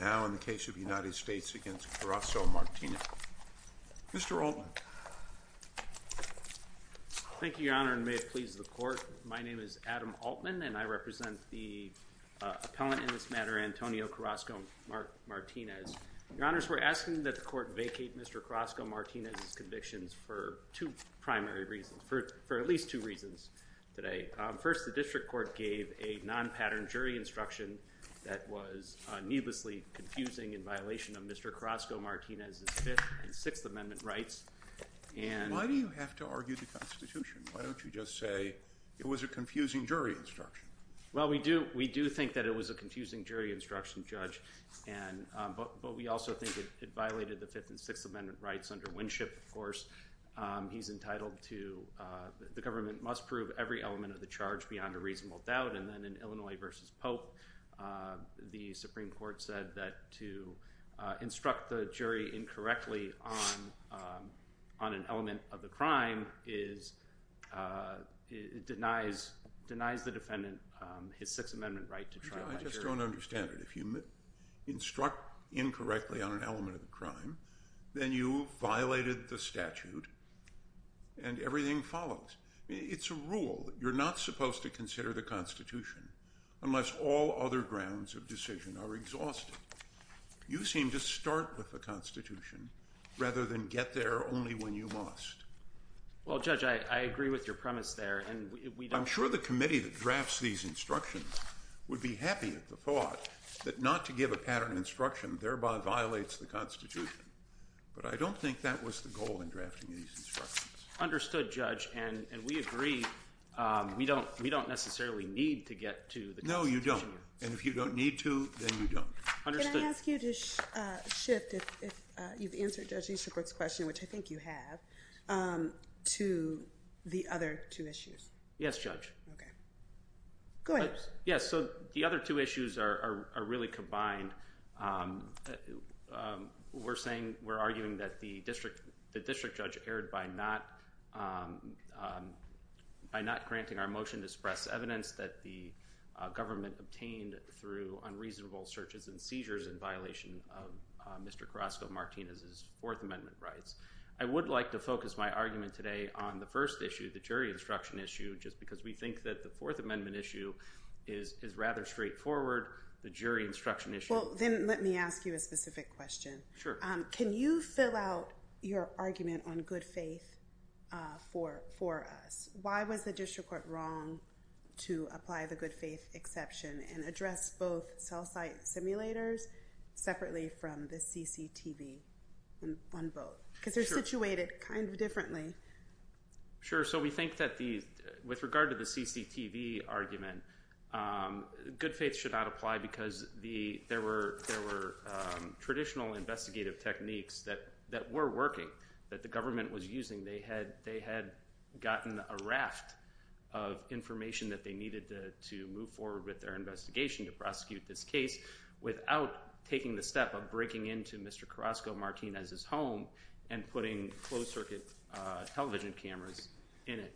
now in the case of the United States against Carrazco-Martinez. Mr. Altman. Thank you, Your Honor, and may it please the Court. My name is Adam Altman, and I represent the appellant in this matter, Antonio Carrazco-Martinez. Your Honors, we're asking that the Court vacate Mr. Carrazco-Martinez's convictions for two primary reasons, for at least two reasons today. First, the District Court gave a non-pattern jury instruction that was needlessly confusing in violation of Mr. Carrazco-Martinez's Fifth and Sixth Amendment rights. Why do you have to argue the Constitution? Why don't you just say it was a confusing jury instruction? Well, we do think that it was a confusing jury instruction, Judge, but we also think it violated the Fifth and Sixth Amendment rights under Winship, of course. He's entitled to, the government must prove every element of the charge beyond a reasonable doubt, and then in Illinois v. Pope, the Supreme Court said that to instruct the jury incorrectly on an element of the crime denies the defendant his Sixth Amendment right to trial by jury. I just don't understand it. If you instruct incorrectly on an element of the crime, then you violated the statute, and everything follows. It's a rule. You're not supposed to consider the Constitution unless all other grounds of decision are exhausted. You seem to start with the Constitution rather than get there only when you must. Well, Judge, I agree with your premise there, and we don't... I'm sure the committee that drafts these instructions would be happy at the thought that not to give a pattern instruction thereby violates the Constitution, but I don't think that was the goal in drafting these instructions. Understood, Judge, and we agree we don't necessarily need to get to the Constitution. No, you don't, and if you don't need to, then you don't. Understood. Can I ask you to shift, if you've answered Judge Easterbrook's question, which I think you have, to the other two issues? Yes, Judge. Okay. Go ahead. Yes, so the other two issues are really combined. We're arguing that the district judge erred by not granting our motion to express evidence that the government obtained through unreasonable searches and seizures in violation of Mr. Carrasco-Martinez's Fourth Amendment rights. I would like to focus my argument today on the first issue, the jury instruction issue, just because we think that the Fourth Amendment issue is rather straightforward, the jury instruction issue... Well, then let me ask you a specific question. Sure. Can you fill out your argument on good faith for us? Why was the district court wrong to apply the good faith exception and address both cell site simulators separately from the CCTV on both? Because they're situated kind of differently. Sure, so we think that with regard to the CCTV argument, good faith should not apply because there were traditional investigative techniques that were working, that the government was using. They had gotten a raft of information that they needed to move forward with their investigation, to prosecute this case, without taking the step of breaking into Mr. Carrasco-Martinez's home and putting closed circuit television cameras in it.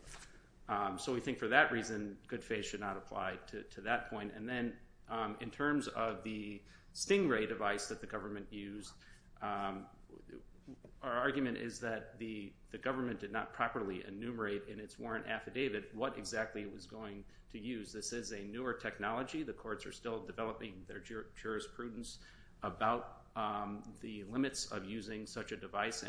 So we think for that reason, good faith should not apply to that point. And then in terms of the Stingray device that the government used, our argument is that the government did not properly enumerate in its warrant affidavit what exactly it was going to use. This is a newer technology. The courts are still developing their jurisprudence about the limits of using such a device.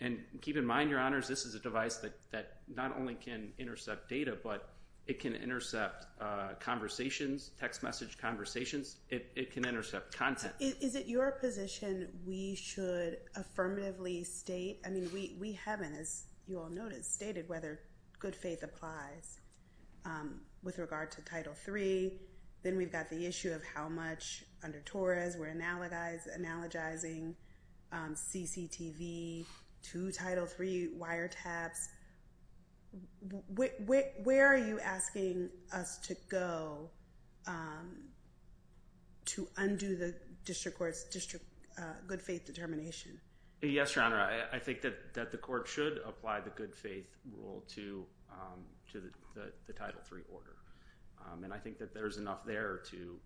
And keep in mind, Your Honors, this is a device that not only can intercept data, but it can intercept conversations, text message conversations. It can intercept content. Is it your position we should affirmatively state? I mean, we haven't, as you all noted, stated whether good faith applies with regard to Title III. Then we've got the issue of how much under TORRAs we're analogizing CCTV to Title III wiretaps. Where are you asking us to go to undo the district court's district good faith determination? Yes, Your Honor. I think that the court should apply the good faith rule to the Title III order. And I think that there's enough there to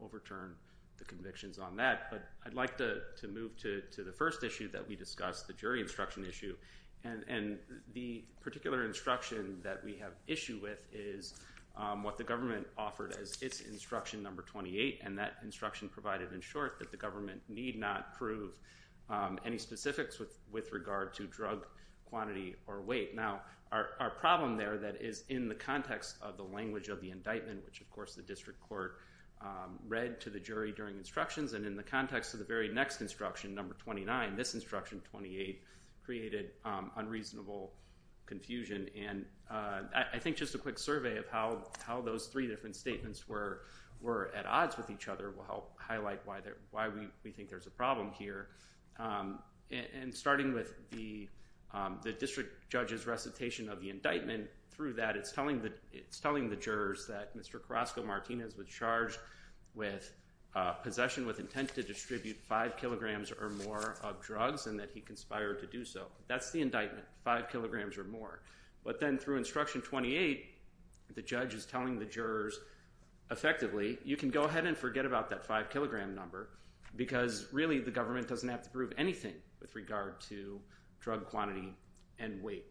overturn the convictions on that. But I'd like to move to the first issue that we discussed, the jury instruction issue. And the particular instruction that we have issue with is what the government offered as its instruction number 28. And that instruction provided in short that the government need not prove any specifics with regard to drug quantity or weight. Now, our problem there that is in the context of the language of the indictment, which of course the district court read to the jury during instructions, and in the context of the very next instruction, number 29, this instruction, 28, created unreasonable confusion. And I think just a quick survey of how those three different statements were at odds with each other will help highlight why we think there's a problem here. And starting with the district judge's recitation of the indictment, through that it's telling the jurors that Mr. Carrasco Martinez was charged with possession with intent to distribute five kilograms or more of drugs and that he conspired to do so. That's the indictment, five kilograms or more. But then through instruction 28, the judge is telling the jurors, effectively, you can go ahead and forget about that five kilogram number because really the government doesn't have to prove anything with regard to drug quantity and weight.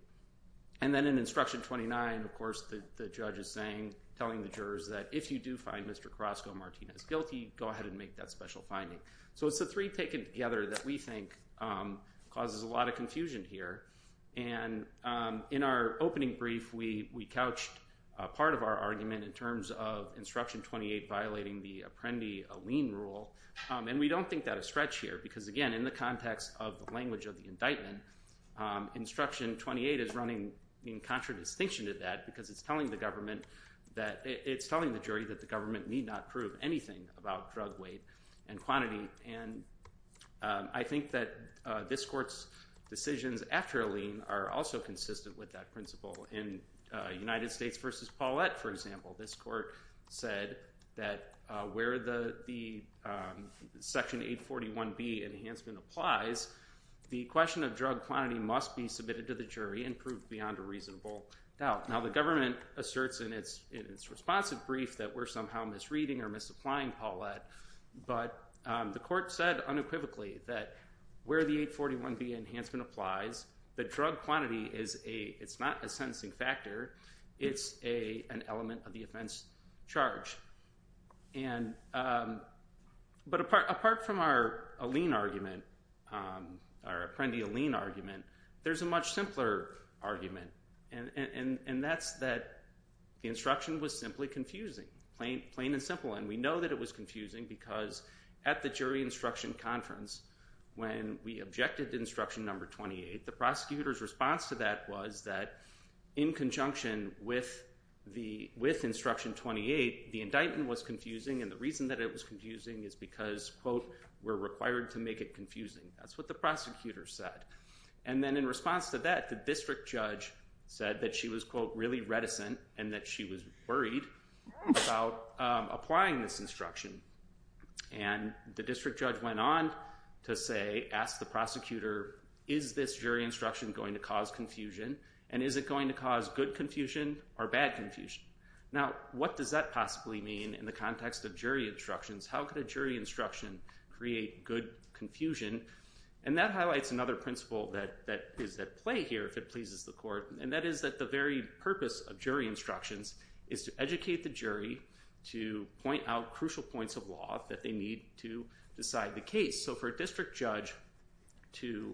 And then in instruction 29, of course, the judge is saying, telling the jurors that if you do find Mr. Carrasco Martinez guilty, go ahead and make that special finding. So it's the three taken together that we think causes a lot of confusion here. And in our opening brief, we couched part of our argument in terms of instruction 28 violating the Apprendi-Aleen rule. And we don't think that a stretch here because, again, in the context of the language of the indictment, instruction 28 is running in contradistinction to that because it's telling the government that it's telling the jury that the government need not prove anything about drug weight and quantity. And I think that this court's decisions after Aleen are also consistent with that principle. In United States v. Paulette, for example, this court said that where the Section 841B enhancement applies, the question of drug quantity must be submitted to the jury and proved beyond a reasonable doubt. Now, the government asserts in its responsive brief that we're somehow misreading or misapplying Paulette. But the court said unequivocally that where the 841B enhancement applies, the drug quantity is not a sentencing factor. It's an element of the offense charge. But apart from our Aleen argument, our Apprendi-Aleen argument, there's a much simpler argument. And that's that the instruction was simply confusing, plain and simple. And we know that it was confusing because at the jury instruction conference, when we objected to instruction number 28, the prosecutor's response to that was that in conjunction with instruction 28, the indictment was confusing. And the reason that it was confusing is because, quote, we're required to make it confusing. That's what the prosecutor said. And then in response to that, the district judge said that she was, quote, really reticent and that she was worried about applying this instruction. And the district judge went on to say, ask the prosecutor, is this jury instruction going to cause confusion? And is it going to cause good confusion or bad confusion? Now, what does that possibly mean in the context of jury instructions? How could a jury instruction create good confusion? And that highlights another principle that is at play here, if it pleases the court. And that is that the very purpose of jury instructions is to educate the jury to point out crucial points of law that they need to decide the case. So for a district judge to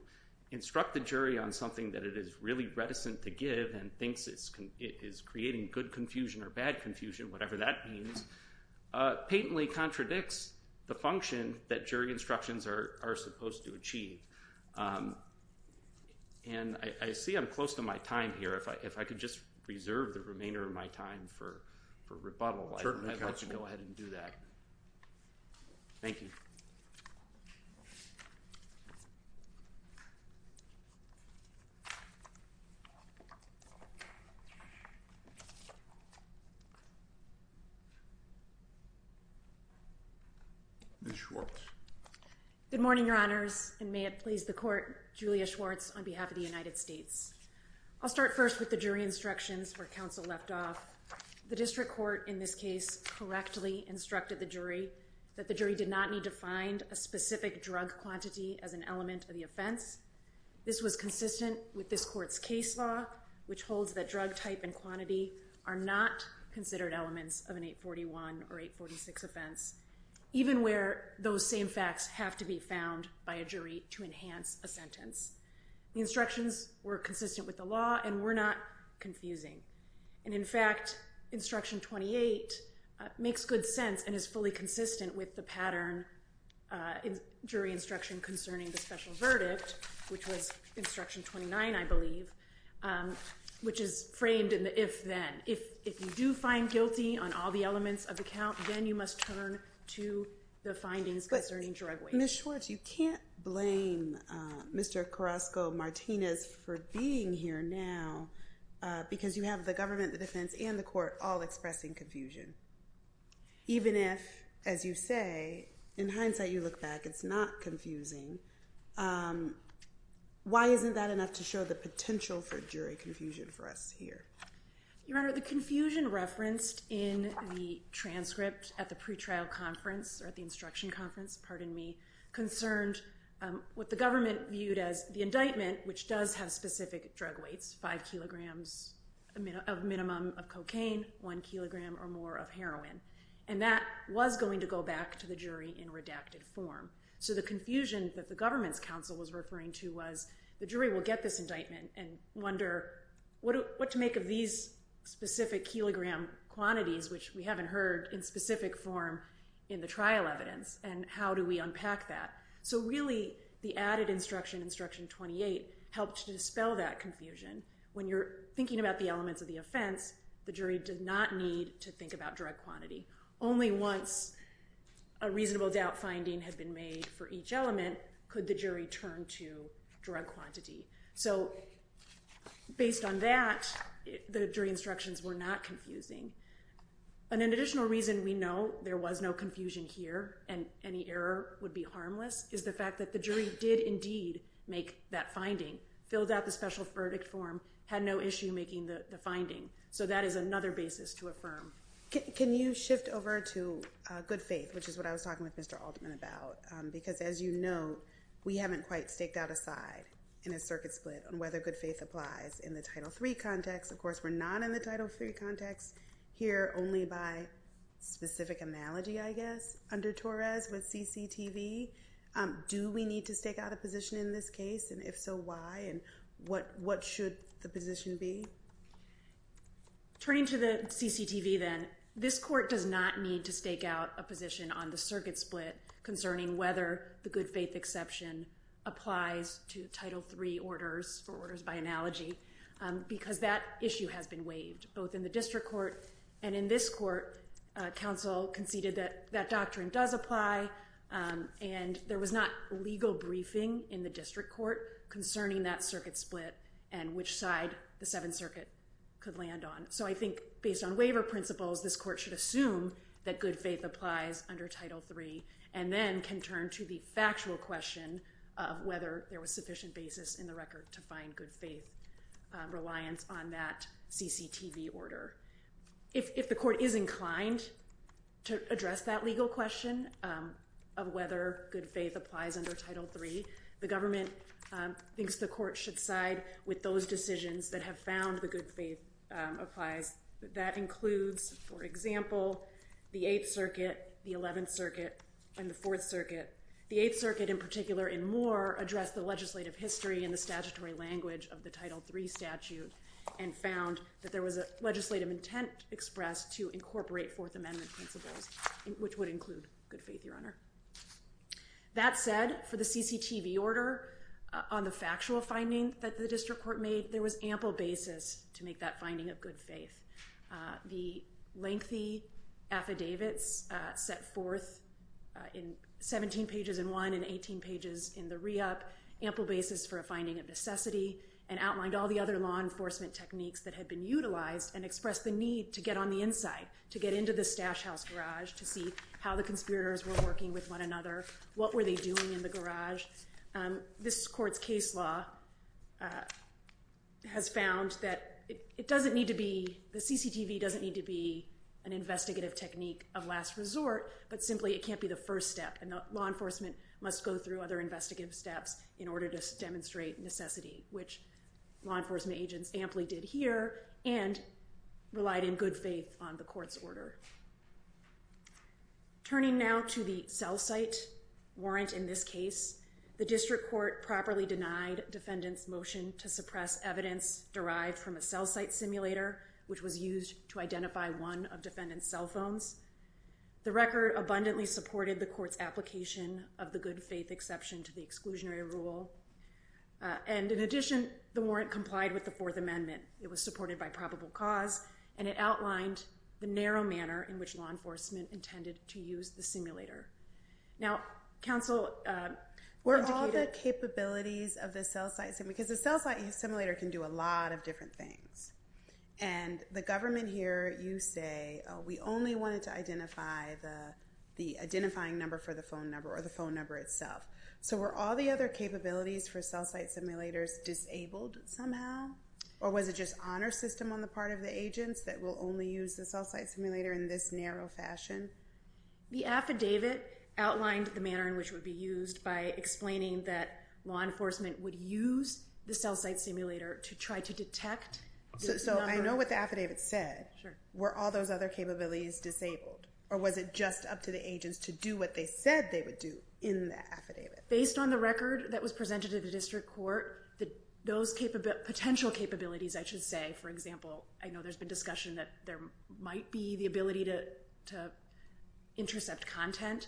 instruct the jury on something that it is really reticent to give and thinks it is creating good confusion or bad confusion, whatever that means, patently contradicts the function that jury instructions are supposed to achieve. And I see I'm close to my time here. If I could just reserve the remainder of my time for rebuttal, I'd like to go ahead and do that. Thank you. Ms. Schwartz. Good morning, Your Honors, and may it please the court, Julia Schwartz on behalf of the United States. I'll start first with the jury instructions where counsel left off. The district court in this case correctly instructed the jury that the jury did not need to find a specific drug quantity as an element of the offense. This was consistent with this court's case law, which holds that drug type and quantity are not considered elements of an 841 or 846 offense, even where those same facts have to be found by a jury to enhance a sentence. The instructions were consistent with the law and were not confusing. And, in fact, Instruction 28 makes good sense and is fully consistent with the pattern in jury instruction concerning the special verdict, which was Instruction 29, I believe, which is framed in the if-then. If you do find guilty on all the elements of the count, then you must turn to the findings concerning drug weight. But, Ms. Schwartz, you can't blame Mr. Carrasco-Martinez for being here now because you have the government, the defense, and the court all expressing confusion. Even if, as you say, in hindsight you look back, it's not confusing, why isn't that enough to show the potential for jury confusion for us here? Your Honor, the confusion referenced in the transcript at the pre-trial conference, or at the instruction conference, pardon me, concerned what the government viewed as the minimum of cocaine, one kilogram or more of heroin. And that was going to go back to the jury in redacted form. So the confusion that the government's counsel was referring to was the jury will get this indictment and wonder what to make of these specific kilogram quantities, which we haven't heard in specific form in the trial evidence, and how do we unpack that? So really, the added instruction, Instruction 28, helped to dispel that confusion. When you're thinking about the elements of the offense, the jury did not need to think about drug quantity. Only once a reasonable doubt finding had been made for each element could the jury turn to drug quantity. So based on that, the jury instructions were not confusing. And an additional reason we know there was no confusion here and any error would be the fact that the jury did indeed make that finding, filled out the special verdict form, had no issue making the finding. So that is another basis to affirm. Can you shift over to good faith, which is what I was talking with Mr. Altman about? Because as you know, we haven't quite staked out a side in a circuit split on whether good faith applies in the Title III context. Of course, we're not in the Title III context here, only by specific analogy, I guess, under Do we need to stake out a position in this case? And if so, why? And what should the position be? Turning to the CCTV then, this court does not need to stake out a position on the circuit split concerning whether the good faith exception applies to Title III orders, or orders by analogy, because that issue has been waived, both in the district court and in this court. Council conceded that that doctrine does apply. And there was not legal briefing in the district court concerning that circuit split and which side the Seventh Circuit could land on. So I think based on waiver principles, this court should assume that good faith applies under Title III, and then can turn to the factual question of whether there was sufficient basis in the record to find good faith reliance on that CCTV order. If the court is inclined to address that legal question of whether good faith applies under Title III, the government thinks the court should side with those decisions that have found the good faith applies. That includes, for example, the Eighth Circuit, the Eleventh Circuit, and the Fourth Circuit. The Eighth Circuit, in particular, and more, addressed the legislative history and the legislative intent expressed to incorporate Fourth Amendment principles, which would include good faith, Your Honor. That said, for the CCTV order, on the factual finding that the district court made, there was ample basis to make that finding of good faith. The lengthy affidavits set forth in 17 pages in one and 18 pages in the re-up, ample basis for a finding of necessity, and outlined all the other law enforcement techniques that were utilized and expressed the need to get on the inside, to get into the stash house garage, to see how the conspirators were working with one another, what were they doing in the garage. This court's case law has found that it doesn't need to be, the CCTV doesn't need to be an investigative technique of last resort, but simply it can't be the first step, and law enforcement must go through other investigative steps in order to demonstrate necessity, which law enforcement agents amply did here, and relied in good faith on the court's order. Turning now to the cell site warrant in this case, the district court properly denied defendants' motion to suppress evidence derived from a cell site simulator, which was used to identify one of defendants' cell phones. The record abundantly supported the court's application of the good faith exception to exclusionary rule, and in addition, the warrant complied with the Fourth Amendment. It was supported by probable cause, and it outlined the narrow manner in which law enforcement intended to use the simulator. Now, counsel... Where all the capabilities of the cell site simulator, because the cell site simulator can do a lot of different things, and the government here, you say, oh, we only wanted to identify the identifying number for the phone number, or the phone number itself. So were all the other capabilities for cell site simulators disabled somehow, or was it just honor system on the part of the agents that will only use the cell site simulator in this narrow fashion? The affidavit outlined the manner in which it would be used by explaining that law enforcement would use the cell site simulator to try to detect the number... So I know what the affidavit said. Sure. Were all those other capabilities disabled, or was it just up to the agents to do what they said they would do in the affidavit? Based on the record that was presented to the district court, those potential capabilities, I should say, for example, I know there's been discussion that there might be the ability to intercept content.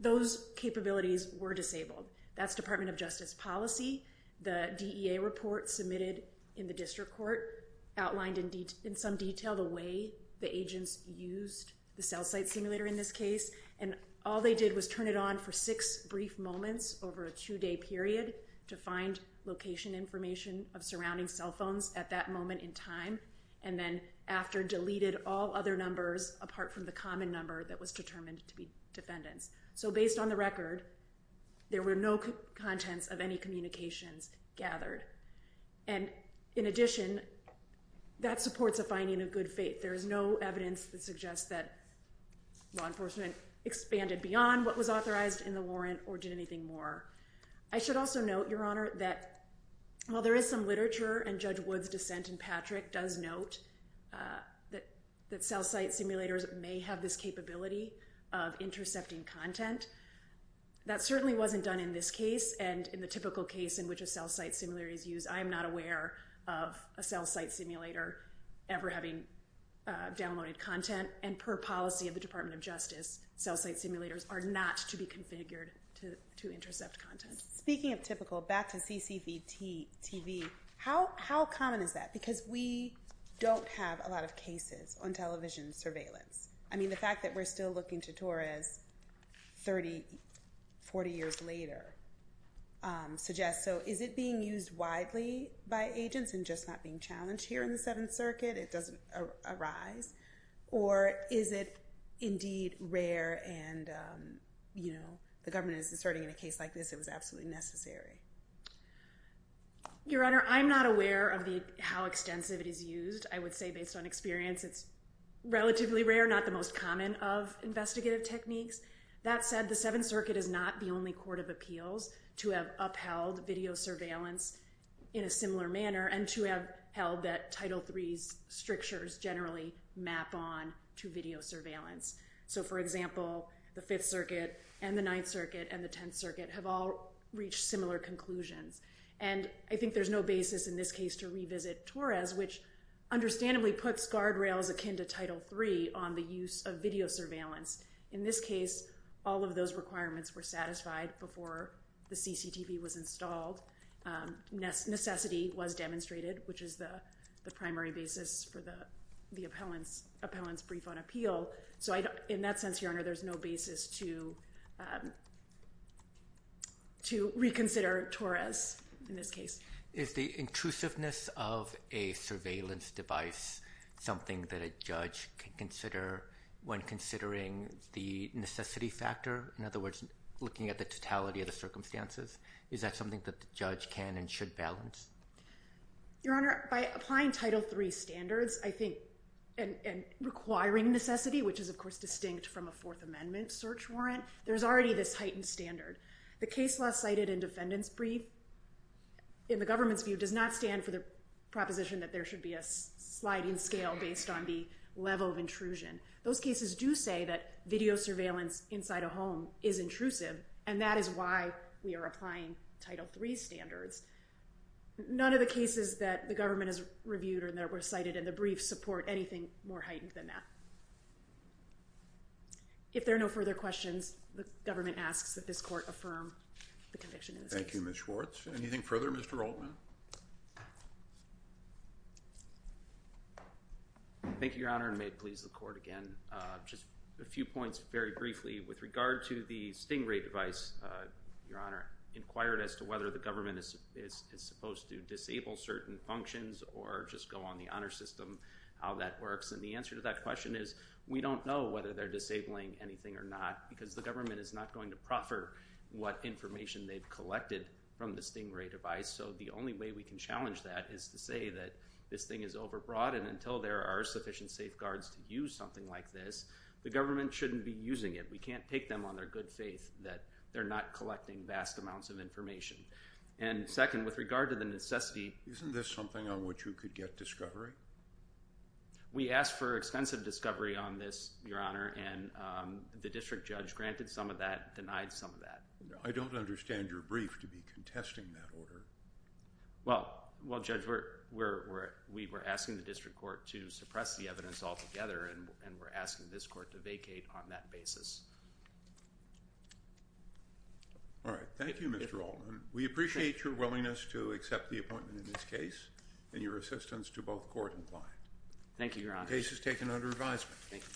Those capabilities were disabled. That's Department of Justice policy. The DEA report submitted in the district court outlined in some detail the way the agents used the cell site simulator in this case. And all they did was turn it on for six brief moments over a two-day period to find location information of surrounding cell phones at that moment in time, and then after deleted all other numbers apart from the common number that was determined to be defendants. So based on the record, there were no contents of any communications gathered. And in addition, that supports a finding of good faith. There is no evidence that suggests that law enforcement expanded beyond what was authorized in the warrant or did anything more. I should also note, Your Honor, that while there is some literature and Judge Wood's dissent in Patrick does note that cell site simulators may have this capability of intercepting content, that certainly wasn't done in this case and in the typical case in which a cell site simulator is used. I am not aware of a cell site simulator ever having downloaded content. And per policy of the Department of Justice, cell site simulators are not to be configured to intercept content. Speaking of typical, back to CCTV, how common is that? Because we don't have a lot of cases on television surveillance. I mean, the fact that we're still looking to Torres 30, 40 years later suggests. So is it being used widely by agents and just not being challenged here in the Seventh Circuit? It doesn't arise. Or is it indeed rare and the government is asserting in a case like this it was absolutely necessary? Your Honor, I'm not aware of how extensive it is used. I would say based on experience, it's relatively rare, not the most common of investigative techniques. That said, the Seventh Circuit is not the only court of appeals to have upheld video surveillance in a similar manner and to have held that Title III's strictures generally map on to video surveillance. So, for example, the Fifth Circuit and the Ninth Circuit and the Tenth Circuit have all reached similar conclusions. And I think there's no basis in this case to revisit Torres, which understandably puts guardrails akin to Title III on the use of video surveillance. In this case, all of those requirements were satisfied before the CCTV was installed. Necessity was demonstrated, which is the primary basis for the appellant's brief on appeal. So, in that sense, Your Honor, there's no basis to reconsider Torres in this case. Is the intrusiveness of a surveillance device something that a judge can consider when considering the necessity factor? In other words, looking at the totality of the circumstances. Is that something that the judge can and should balance? Your Honor, by applying Title III standards, I think, and requiring necessity, which is of course distinct from a Fourth Amendment search warrant, there's already this heightened standard. The case law cited in defendant's brief, in the government's view, does not stand for the proposition that there should be a sliding scale based on the level of intrusion. Those cases do say that video surveillance inside a home is intrusive, and that is why we are applying Title III standards. None of the cases that the government has reviewed or that were cited in the brief support anything more heightened than that. If there are no further questions, the government asks that this court affirm the conviction in this case. Thank you, Ms. Schwartz. Anything further, Mr. Altman? Thank you, Your Honor, and may it please the court again, just a few points very briefly. With regard to the stingray device, Your Honor, inquired as to whether the government is supposed to disable certain functions or just go on the honor system, how that works. And the answer to that question is we don't know whether they're disabling anything or not, because the government is not going to proffer what information they've collected from the stingray device. So the only way we can challenge that is to say that this thing is overbroad, and until there are sufficient safeguards to use something like this, the government shouldn't be using it. We can't take them on their good faith that they're not collecting vast amounts of information. And second, with regard to the necessity— Isn't this something on which you could get discovery? We asked for extensive discovery on this, Your Honor, and the district judge granted some of that, denied some of that. I don't understand your brief to be contesting that order. Well, Judge, we were asking the district court to suppress the evidence altogether, and we're asking this court to vacate on that basis. All right. Thank you, Mr. Altman. We appreciate your willingness to accept the appointment in this case and your assistance to both court and client. Thank you, Your Honor. The case is taken under advisement. Thank you.